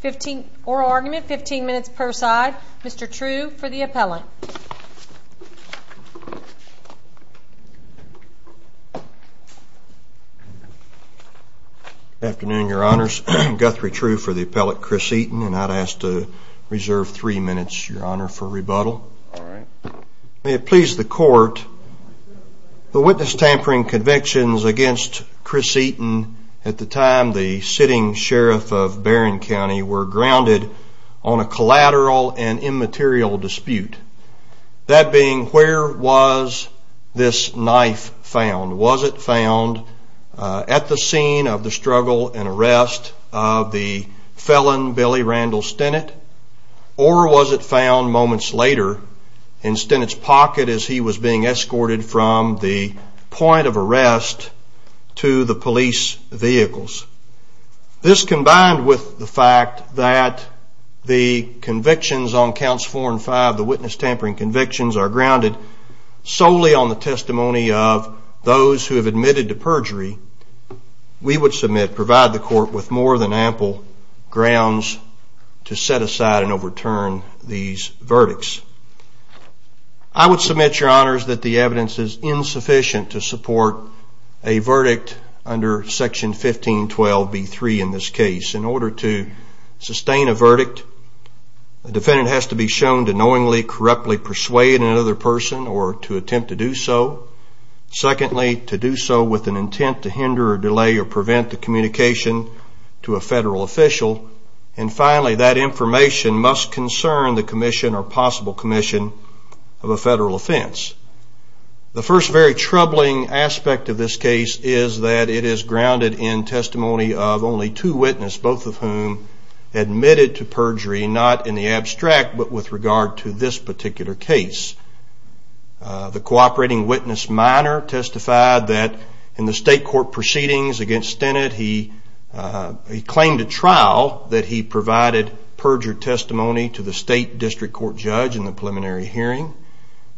15 oral argument, 15 minutes per side. Mr. True for the appellant. Good afternoon, your honors. Guthrie True for the appellant, Chris Eaton, and I'd ask to reserve three minutes, your honor, for rebuttal. May it please the court, the witness tampering convictions against Chris Eaton at the time the sitting sheriff of Barron County were grounded on a collateral and immaterial dispute. That being, where was this knife found? Was it found at the scene of the struggle and arrest of the felon Billy Randall Stennett? Or was it found moments later in Stennett's pocket as he was being escorted from the point of arrest to the police vehicles? This combined with the fact that the convictions on counts four and five, the witness tampering convictions, are grounded solely on the testimony of those who have admitted to perjury, we would submit, provide the court with more than ample grounds to set aside and overturn these verdicts. I would submit, your honors, that the evidence is insufficient to support a verdict under section 1512B3 in this case. In order to sustain a verdict, the defendant has to be shown to knowingly, corruptly persuade another person or to attempt to do so. Secondly, to do so with an intent to hinder, delay, or prevent the communication to a federal official. And finally, that information must concern the commission or possible commission of a federal offense. The first very troubling aspect of this case is that it is grounded in testimony of only two witnesses, both of whom admitted to perjury, not in the abstract, but with regard to this particular case. The cooperating witness minor testified that in the state court proceedings against Stennett, he claimed at trial that he provided perjured testimony to the state district court judge in the preliminary hearing,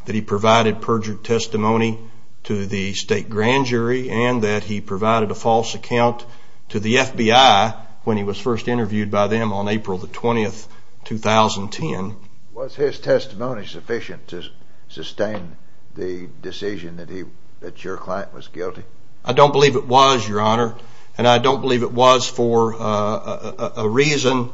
that he provided perjured testimony to the state grand jury, and that he provided a false account to the FBI when he was first interviewed by them on April 20, 2010. Was his testimony sufficient to sustain the decision that your client was guilty? I don't believe it was, your honor, and I don't believe it was for a reason.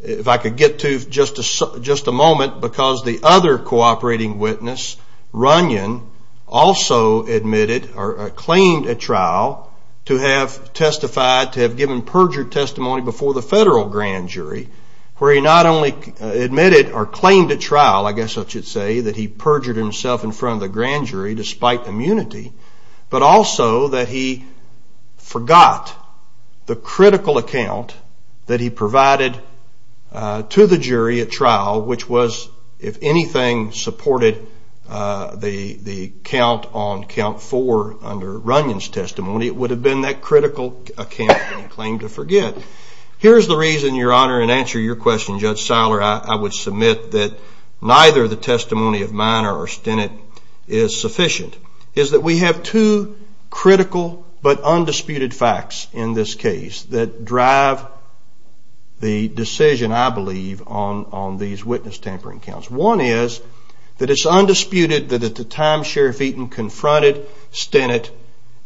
If I could get to just a moment, because the other cooperating witness, Runyon, also admitted or claimed at trial to have testified, to have given perjured testimony before the federal grand jury, where he not only admitted or claimed at trial, I guess I should say, that he perjured himself in front of the grand jury despite immunity, but also that he forgot the critical account that he provided to the jury at trial, which was, if anything, supported the count on count four under Runyon's testimony. It would have been that critical account that he claimed to forget. Here's the reason, your honor, in answer to your question, Judge Seiler, I would submit that neither the testimony of minor or Stennett is sufficient. We have two critical but undisputed facts in this case that drive the decision, I believe, on these witness tampering counts. One is that it's undisputed that at the time Sheriff Eaton confronted Stennett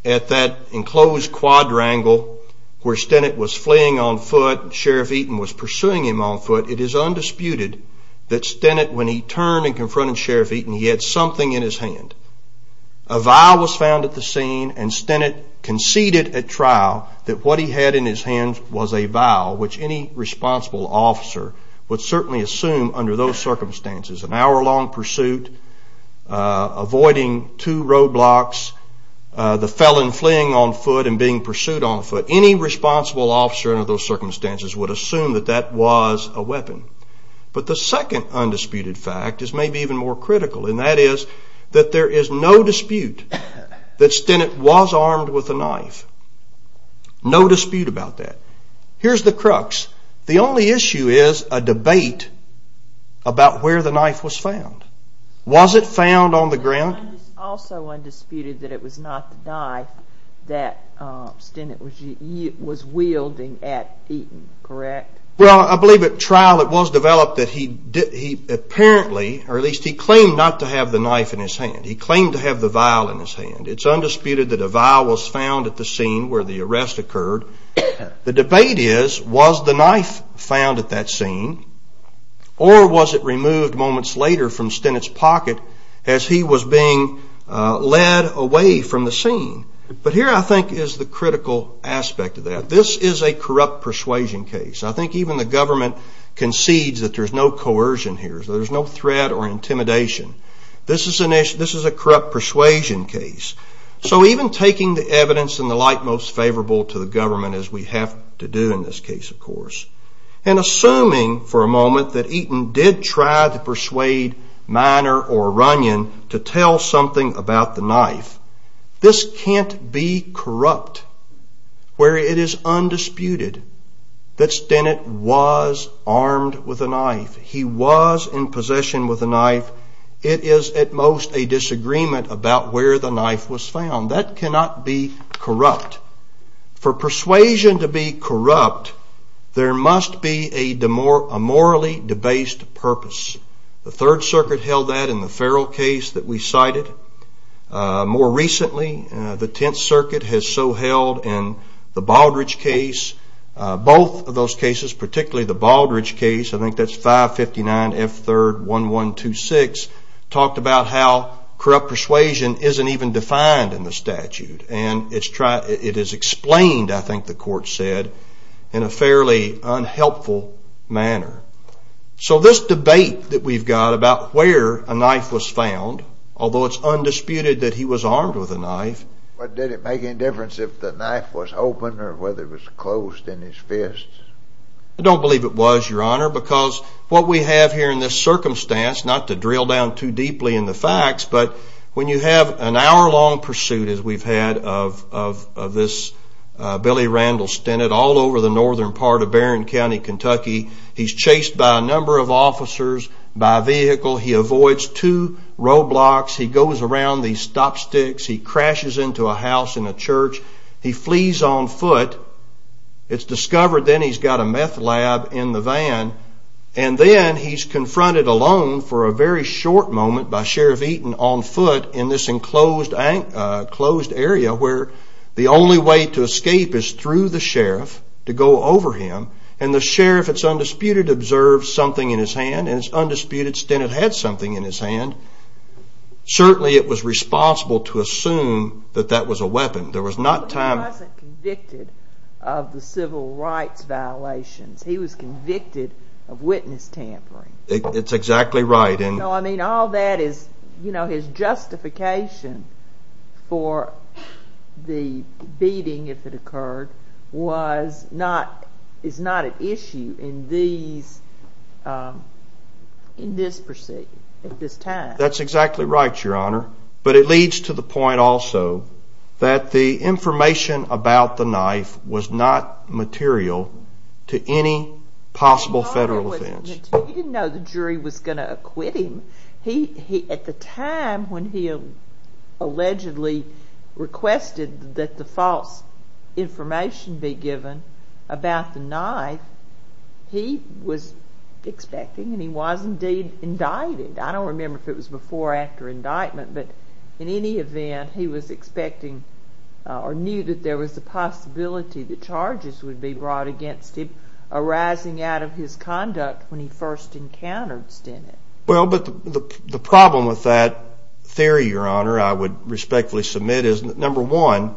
at that enclosed quadrangle where Stennett was fleeing on foot, and Sheriff Eaton was pursuing him on foot, it is undisputed that Stennett, when he turned and confronted Sheriff Eaton, he had something in his hand. A vial was found at the scene, and Stennett conceded at trial that what he had in his hand was a vial, which any responsible officer would certainly assume under those circumstances. An hour-long pursuit, avoiding two roadblocks, the felon fleeing on foot and being pursued on foot, any responsible officer under those circumstances would assume that that was a weapon. But the second undisputed fact is maybe even more critical, and that is that there is no dispute that Stennett was armed with a knife. No dispute about that. Here's the crux. The only issue is a debate about where the knife was found. Was it found on the ground? It's also undisputed that it was not the knife that Stennett was wielding at Eaton, correct? Well, I believe at trial it was developed that he claimed not to have the knife in his hand. He claimed to have the vial in his hand. It's undisputed that a vial was found at the scene where the arrest occurred. The debate is, was the knife found at that scene, or was it removed moments later from Stennett's pocket as he was being led away from the scene? But here, I think, is the critical aspect of that. This is a corrupt persuasion case. I think even the government concedes that there's no coercion here. There's no threat or intimidation. This is a corrupt persuasion case. So even taking the evidence in the light most favorable to the government, as we have to do in this case, of course, and assuming for a moment that Eaton did try to persuade Miner or Runyon to tell something about the knife, this can't be corrupt, where it is undisputed that Stennett was armed with a knife. He was in possession with a knife. It is at most a disagreement about where the knife was found. That cannot be corrupt. For persuasion to be corrupt, there must be a morally debased purpose. The Third Circuit held that in the Farrell case that we cited. More recently, the Tenth Circuit has so held in the Baldrige case. Both of those cases, particularly the Baldrige case, I think that's 559 F. 3rd 1126, talked about how corrupt persuasion isn't even defined in the statute. And it is explained, I think the court said, in a fairly unhelpful manner. So this debate that we've got about where a knife was found, although it's undisputed that he was armed with a knife. But did it make any difference if the knife was open or whether it was closed in his fist? I don't believe it was, Your Honor, because what we have here in this circumstance, not to drill down too deeply in the facts, but when you have an hour-long pursuit, as we've had, of this Billy Randall Stennett all over the northern part of Barron County, Kentucky, he's chased by a number of officers by vehicle. He avoids two roadblocks. He goes around these stop sticks. He crashes into a house in a church. He flees on foot. It's discovered then he's got a meth lab in the van. And then he's confronted alone for a very short moment by Sheriff Eaton on foot in this enclosed area where the only way to escape is through the sheriff to go over him. And the sheriff, it's undisputed, observes something in his hand, and it's undisputed Stennett had something in his hand. Certainly it was responsible to assume that that was a weapon. There was not time... But he wasn't convicted of the civil rights violations. He was convicted of witness tampering. It's exactly right. No, I mean, all that is, you know, his justification for the beating, if it occurred, was not, is not at issue in these, in this pursuit at this time. That's exactly right, Your Honor. But it leads to the point also that the information about the knife was not material to any possible federal offense. You didn't know the jury was going to acquit him. At the time when he allegedly requested that the false information be given about the knife, he was expecting and he was indeed indicted. I don't remember if it was before or after indictment, but in any event he was expecting or knew that there was a possibility that charges would be brought against him arising out of his conduct when he first encountered Stennett. Well, but the problem with that theory, Your Honor, I would respectfully submit, is that number one,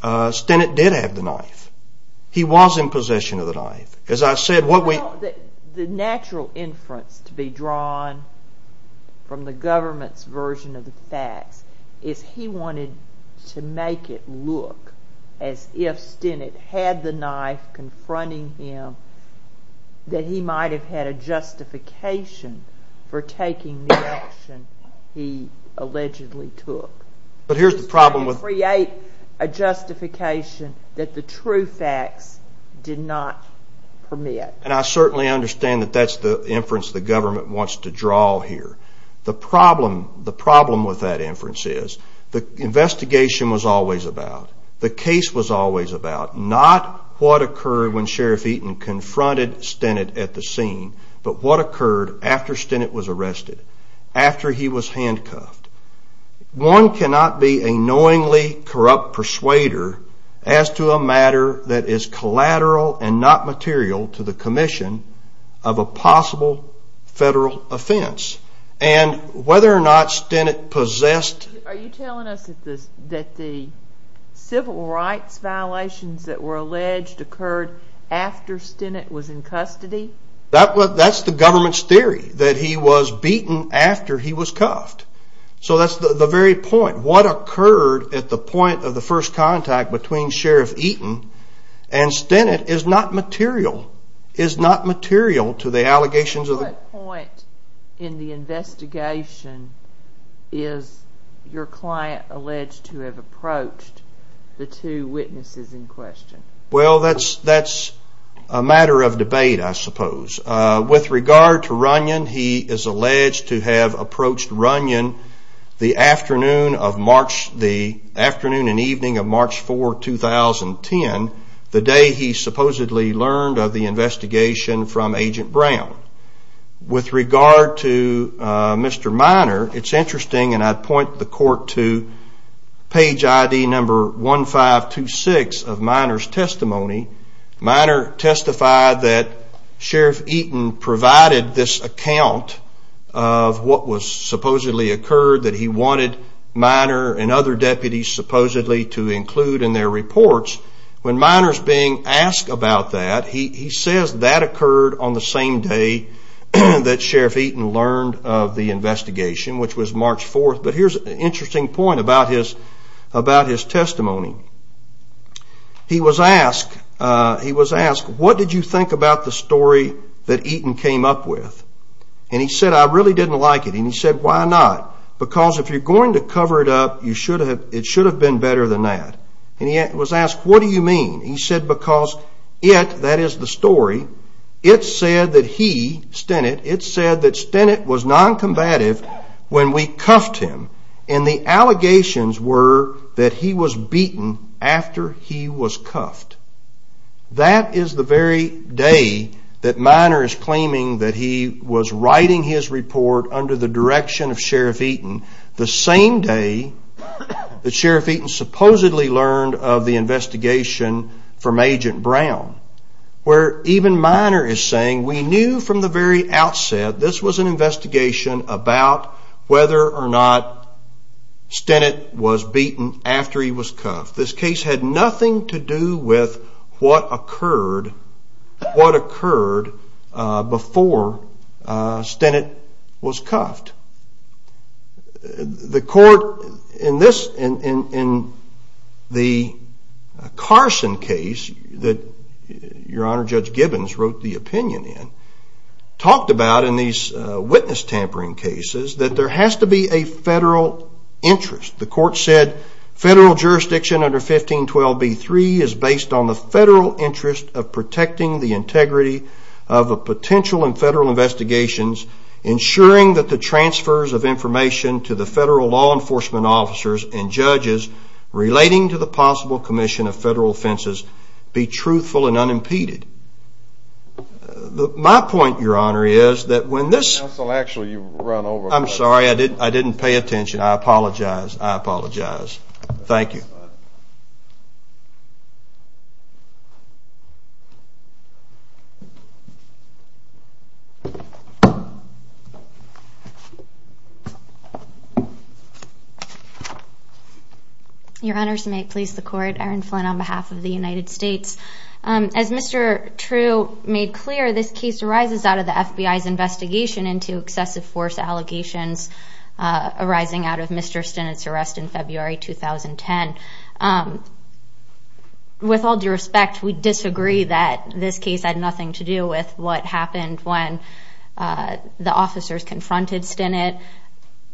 Stennett did have the knife. He was in possession of the knife. As I said, what we... Well, the natural inference to be drawn from the government's version of the facts is he wanted to make it look as if Stennett had the knife confronting him that he might have had a justification for taking the action he allegedly took. But here's the problem with... To create a justification that the true facts did not permit. And I certainly understand that that's the inference the government wants to draw here. The problem with that inference is the investigation was always about, the case was always about, not what occurred when Sheriff Eaton confronted Stennett at the scene, but what occurred after Stennett was arrested, after he was handcuffed. One cannot be a knowingly corrupt persuader as to a matter that is collateral and not material to the commission of a possible federal offense. And whether or not Stennett possessed... Are you telling us that the civil rights violations that were alleged occurred after Stennett was in custody? That's the government's theory, that he was beaten after he was cuffed. So that's the very point. What occurred at the point of the first contact between Sheriff Eaton and Stennett is not material, is not material to the allegations of... At what point in the investigation is your client alleged to have approached the two witnesses in question? Well, that's a matter of debate, I suppose. With regard to Runyon, he is alleged to have approached Runyon the afternoon and evening of March 4, 2010, the day he supposedly learned of the investigation from Agent Brown. With regard to Mr. Minor, it's interesting, and I'd point the court to page ID number 1526 of Minor's testimony. Minor testified that Sheriff Eaton provided this account of what supposedly occurred, that he wanted Minor and other deputies supposedly to include in their reports when Minor's being asked about that, he says that occurred on the same day that Sheriff Eaton learned of the investigation, which was March 4. But here's an interesting point about his testimony. He was asked, what did you think about the story that Eaton came up with? And he said, I really didn't like it. And he said, why not? Because if you're going to cover it up, it should have been better than that. And he was asked, what do you mean? He said, because it, that is the story, it said that he, Stennett, it said that Stennett was noncombative when we cuffed him. And the allegations were that he was beaten after he was cuffed. That is the very day that Minor is claiming that he was writing his report under the direction of Sheriff Eaton, the same day that Sheriff Eaton supposedly learned of the investigation from Agent Brown, where even Minor is saying, we knew from the very outset this was an investigation about whether or not Stennett was beaten after he was cuffed. This case had nothing to do with what occurred before Stennett was cuffed. The court, in this, in the Carson case that Your Honor, Judge Gibbons wrote the opinion in, talked about in these witness tampering cases that there has to be a federal interest. The court said, federal jurisdiction under 1512b-3 is based on the federal interest of protecting the integrity of a potential and federal investigations, ensuring that the transfers of information to the federal law enforcement officers and judges relating to the possible commission of federal offenses be truthful and unimpeded. My point, Your Honor, is that when this... Counsel, actually you've run over... I'm sorry, I didn't pay attention. I apologize. I apologize. Thank you. Your Honors, may it please the court. Erin Flynn on behalf of the United States. As Mr. True made clear, this case arises out of the FBI's investigation into excessive force allegations arising out of Mr. Stennett's arrest in February 2010. With all due respect, we disagree that this case had nothing to do with what happened when the officers confronted Stennett.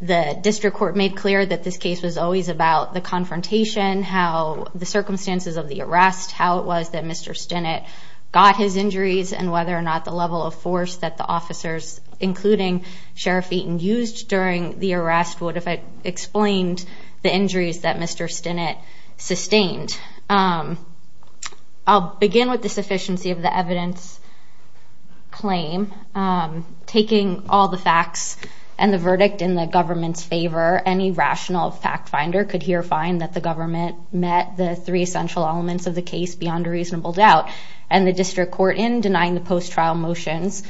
The district court made clear that this case was always about the confrontation, how the circumstances of the arrest, how it was that Mr. Stennett got his injuries, and whether or not the level of force that the officers, including Sheriff Eaton, used during the arrest would have explained the injuries that Mr. Stennett sustained. I'll begin with the sufficiency of the evidence claim. Taking all the facts and the verdict in the government's favor, any rational fact finder could hear fine that the government met the three essential elements of the case beyond a reasonable doubt. And the district court, in denying the post-trial motions,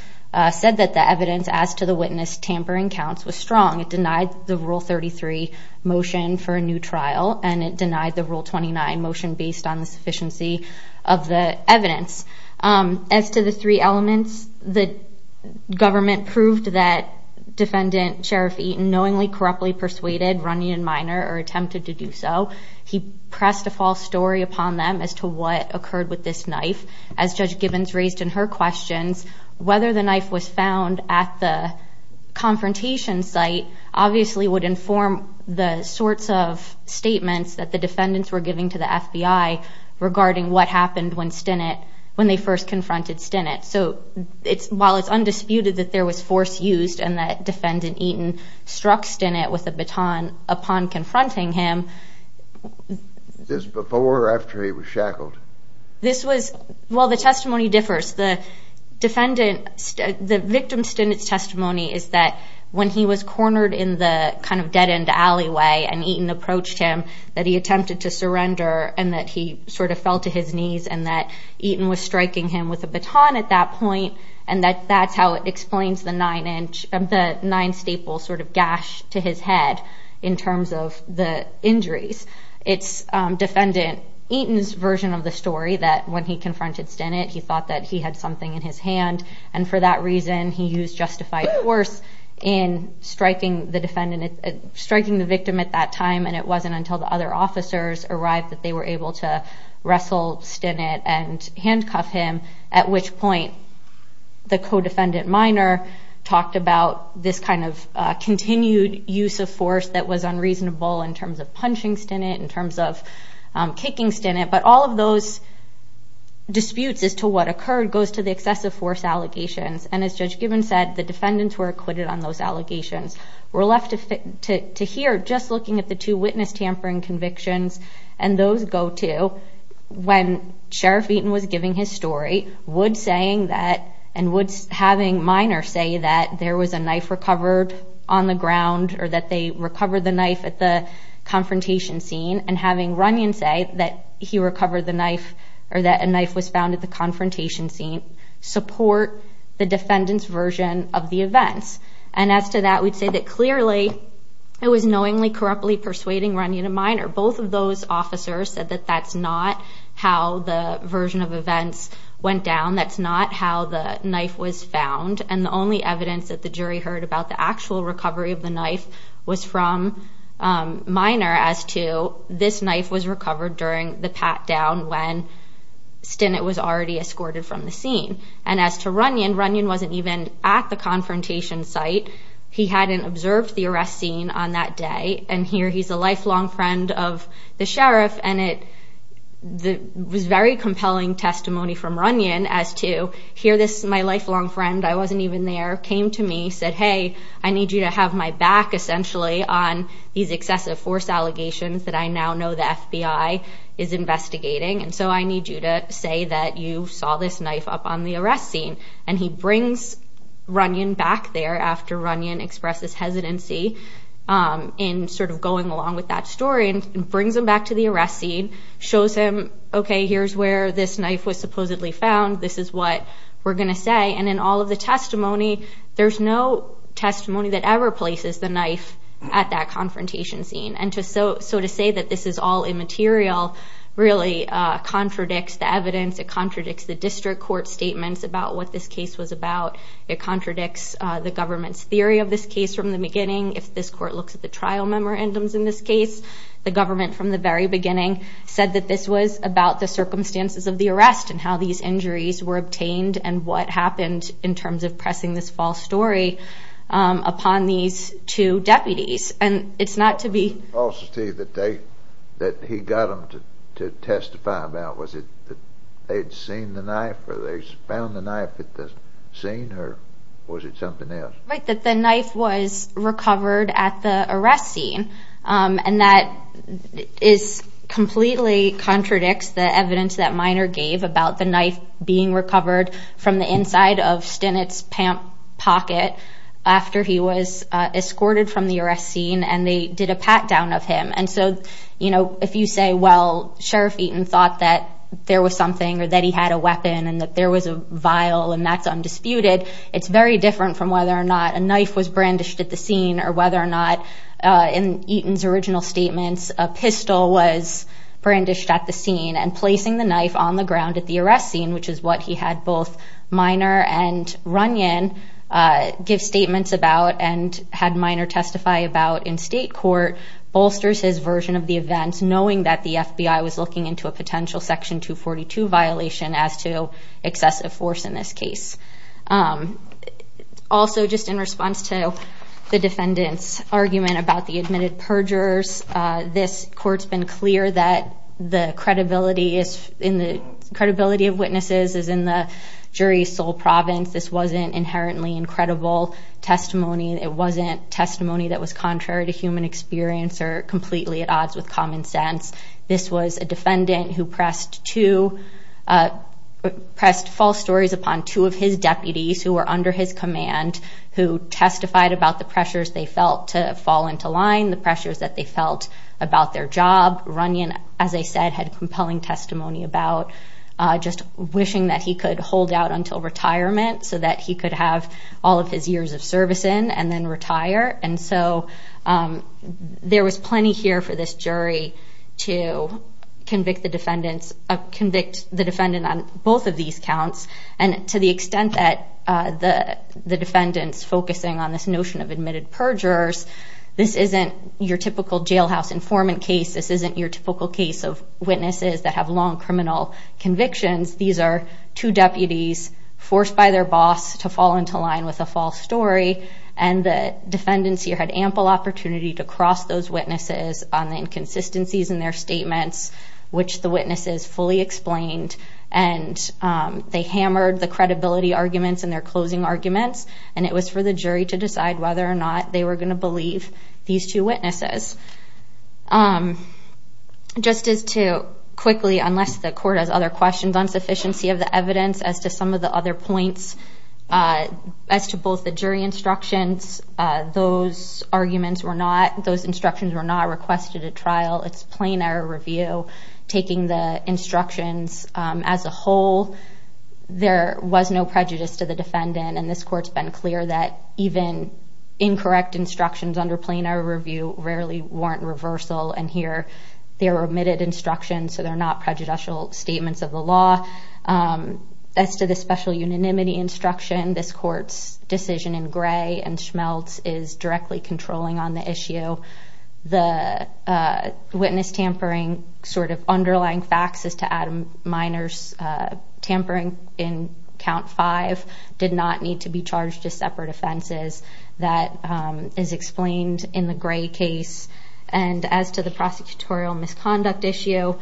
said that the evidence as to the witness tampering counts was strong. It denied the Rule 33 motion for a new trial, and it denied the Rule 29 motion based on the sufficiency of the evidence. As to the three elements, the government proved that Defendant Sheriff Eaton knowingly, corruptly persuaded Runyon Minor, or attempted to do so. He pressed a false story upon them as to what occurred with this knife. As Judge Gibbons raised in her questions, whether the knife was found at the confrontation site obviously would inform the sorts of statements that the defendants were giving to the FBI regarding what happened when Stennett, when they first confronted Stennett. So while it's undisputed that there was force used and that Defendant Eaton struck Stennett with a baton upon confronting him. Was this before or after he was shackled? This was, well the testimony differs. The defendant, the victim Stennett's testimony is that when he was cornered in the kind of dead end alleyway and Eaton approached him, that he attempted to surrender and that he sort of fell to his knees and that Eaton was striking him with a baton at that point. And that's how it explains the nine staple sort of gash to his head in terms of the injuries. It's Defendant Eaton's version of the story that when he confronted Stennett, he thought that he had something in his hand. And for that reason, he used justified force in striking the victim at that time and it wasn't until the other officers arrived that they were able to wrestle Stennett and handcuff him. At which point, the co-defendant minor talked about this kind of continued use of force that was unreasonable in terms of punching Stennett, in terms of kicking Stennett. But all of those disputes as to what occurred goes to the excessive force allegations. And as Judge Gibbons said, the defendants were acquitted on those allegations. We're left to hear just looking at the two witness tampering convictions and those go to when Sheriff Eaton was giving his story, Wood saying that, and having minor say that there was a knife recovered on the ground or that they recovered the knife at the confrontation scene and having Runyon say that he recovered the knife or that a knife was found at the confrontation scene support the defendant's version of the events. And as to that, we'd say that clearly it was knowingly, corruptly persuading Runyon and minor. Both of those officers said that that's not how the version of events went down. That's not how the knife was found. And the only evidence that the jury heard about the actual recovery of the knife was from minor as to this knife was recovered during the pat down when Stennett was already escorted from the scene. And as to Runyon, Runyon wasn't even at the confrontation site. He hadn't observed the arrest scene on that day. And here he's a lifelong friend of the sheriff. And it was very compelling testimony from Runyon as to here this is my lifelong friend. I wasn't even there, came to me, said, hey, I need you to have my back, essentially, on these excessive force allegations that I now know the FBI is investigating. And so I need you to say that you saw this knife up on the arrest scene. And he brings Runyon back there after Runyon expresses hesitancy in sort of going along with that story and brings him back to the arrest scene, shows him, okay, here's where this knife was supposedly found. This is what we're going to say. And in all of the testimony, there's no testimony that ever places the knife at that confrontation scene. And so to say that this is all immaterial really contradicts the evidence. It contradicts the district court statements about what this case was about. It contradicts the government's theory of this case from the beginning. If this court looks at the trial memorandums in this case, the government from the very beginning said that this was about the circumstances of the arrest and how these injuries were obtained and what happened in terms of pressing this false story upon these two deputies. And it's not to be. The falsity that he got them to testify about, was it that they'd seen the knife or they found the knife at the scene or was it something else? Right, that the knife was recovered at the arrest scene. And that completely contradicts the evidence that Minor gave about the knife being recovered from the inside of Stinnett's pocket after he was escorted from the arrest scene and they did a pat-down of him. And so if you say, well, Sheriff Eaton thought that there was something or that he had a weapon and that there was a vial and that's undisputed, it's very different from whether or not a knife was brandished at the scene or whether or not, in Eaton's original statements, a pistol was brandished at the scene. And placing the knife on the ground at the arrest scene, which is what he had both Minor and Runyon give statements about and had Minor testify about in state court, bolsters his version of the events, knowing that the FBI was looking into a potential Section 242 violation as to excessive force in this case. Also, just in response to the defendant's argument about the admitted perjurers, this court's been clear that the credibility of witnesses is in the jury's sole province. This wasn't inherently incredible testimony. It wasn't testimony that was contrary to human experience or completely at odds with common sense. This was a defendant who pressed false stories upon two of his deputies who were under his command, who testified about the pressures they felt to fall into line, the pressures that they felt about their job. Runyon, as I said, had compelling testimony about just wishing that he could hold out until retirement so that he could have all of his years of service in and then retire. And so there was plenty here for this jury to convict the defendant on both of these counts. And to the extent that the defendant's focusing on this notion of admitted perjurers, this isn't your typical jailhouse informant case. This isn't your typical case of witnesses that have long criminal convictions. These are two deputies forced by their boss to fall into line with a false story, and the defendants here had ample opportunity to cross those witnesses on the inconsistencies in their statements, which the witnesses fully explained. And they hammered the credibility arguments and their closing arguments, and it was for the jury to decide whether or not they were going to believe these two witnesses. Just as to quickly, unless the court has other questions on sufficiency of the evidence, as to some of the other points, as to both the jury instructions, those instructions were not requested at trial. It's plain error review. Taking the instructions as a whole, there was no prejudice to the defendant, and this court's been clear that even incorrect instructions under plain error review rarely warrant reversal. And here they are omitted instructions, so they're not prejudicial statements of the law. As to the special unanimity instruction, this court's decision in Gray and Schmeltz is directly controlling on the issue. The witness tampering sort of underlying facts as to Adam Miner's tampering in Count 5 did not need to be charged as separate offenses. That is explained in the Gray case. And as to the prosecutorial misconduct issue,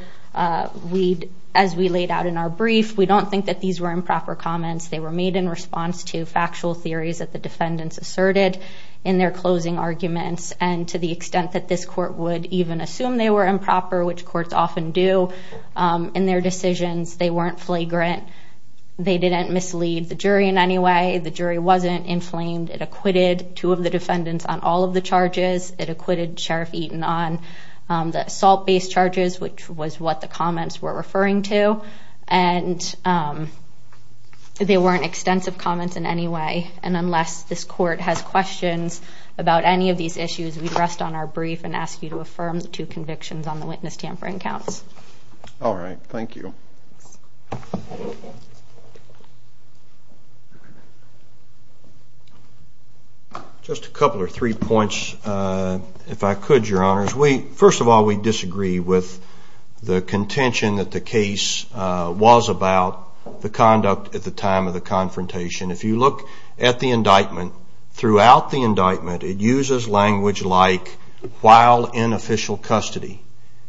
as we laid out in our brief, we don't think that these were improper comments. They were made in response to factual theories that the defendants asserted in their closing arguments. And to the extent that this court would even assume they were improper, which courts often do in their decisions, they weren't flagrant. They didn't mislead the jury in any way. The jury wasn't inflamed. It acquitted two of the defendants on all of the charges. It acquitted Sheriff Eaton on the assault-based charges, which was what the comments were referring to. And they weren't extensive comments in any way. And unless this court has questions about any of these issues, we rest on our brief and ask you to affirm the two convictions on the witness tampering counts. All right, thank you. Just a couple or three points, if I could, Your Honors. First of all, we disagree with the contention that the case was about the conduct at the time of the confrontation. If you look at the indictment, throughout the indictment it uses language like while in official custody.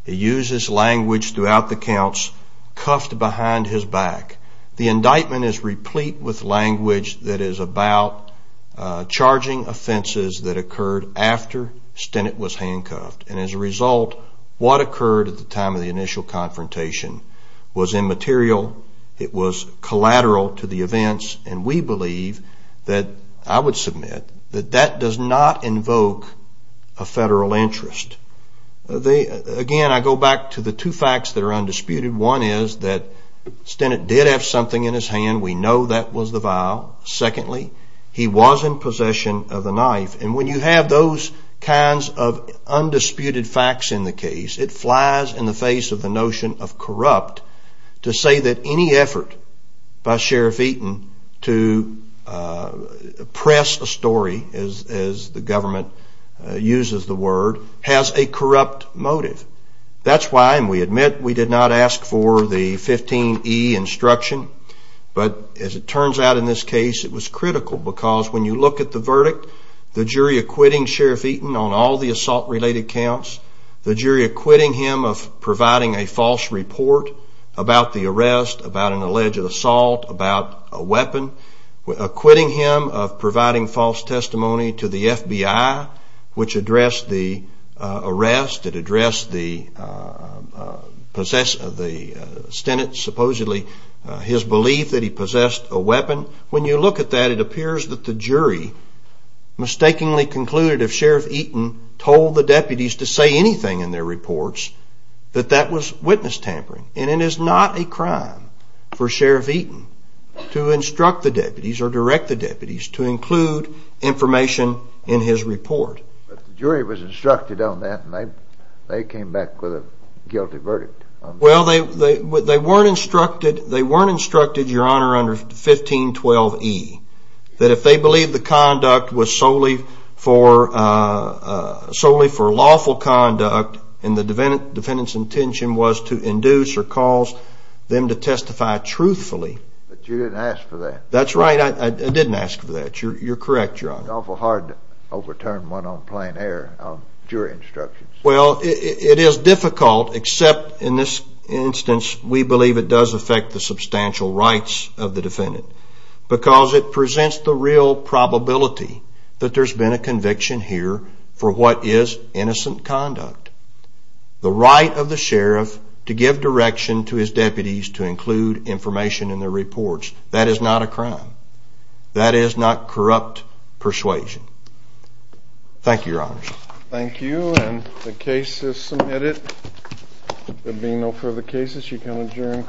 It uses language throughout the counts, cuffed behind his back. The indictment is replete with language that is about charging offenses that occurred after Stennett was handcuffed. And as a result, what occurred at the time of the initial confrontation was immaterial. It was collateral to the events. And we believe that, I would submit, that that does not invoke a federal interest. Again, I go back to the two facts that are undisputed. One is that Stennett did have something in his hand. We know that was the vial. Secondly, he was in possession of the knife. And when you have those kinds of undisputed facts in the case, it flies in the face of the notion of corrupt to say that any effort by Sheriff Eaton to press a story, as the government uses the word, has a corrupt motive. That's why, and we admit, we did not ask for the 15E instruction, but as it turns out in this case, it was critical because when you look at the verdict, the jury acquitting Sheriff Eaton on all the assault-related counts, the jury acquitting him of providing a false report about the arrest, about an alleged assault, about a weapon, acquitting him of providing false testimony to the FBI, which addressed the arrest, it addressed the Stennett, supposedly his belief that he possessed a weapon. When you look at that, it appears that the jury mistakenly concluded if Sheriff Eaton told the deputies to say anything in their reports that that was witness tampering. And it is not a crime for Sheriff Eaton to instruct the deputies or direct the deputies to include information in his report. But the jury was instructed on that, and they came back with a guilty verdict. Well, they weren't instructed, Your Honor, under 1512E, that if they believed the conduct was solely for lawful conduct and the defendant's intention was to induce or cause them to testify truthfully. But you didn't ask for that. That's right. I didn't ask for that. You're correct, Your Honor. It's awful hard to overturn one on plain air on jury instructions. Well, it is difficult, except in this instance, we believe it does affect the substantial rights of the defendant because it presents the real probability that there's been a conviction here for what is innocent conduct. The right of the sheriff to give direction to his deputies to include information in their reports, that is not a crime. That is not corrupt persuasion. Thank you, Your Honor. Thank you, and the case is submitted. There being no further cases, you can adjourn.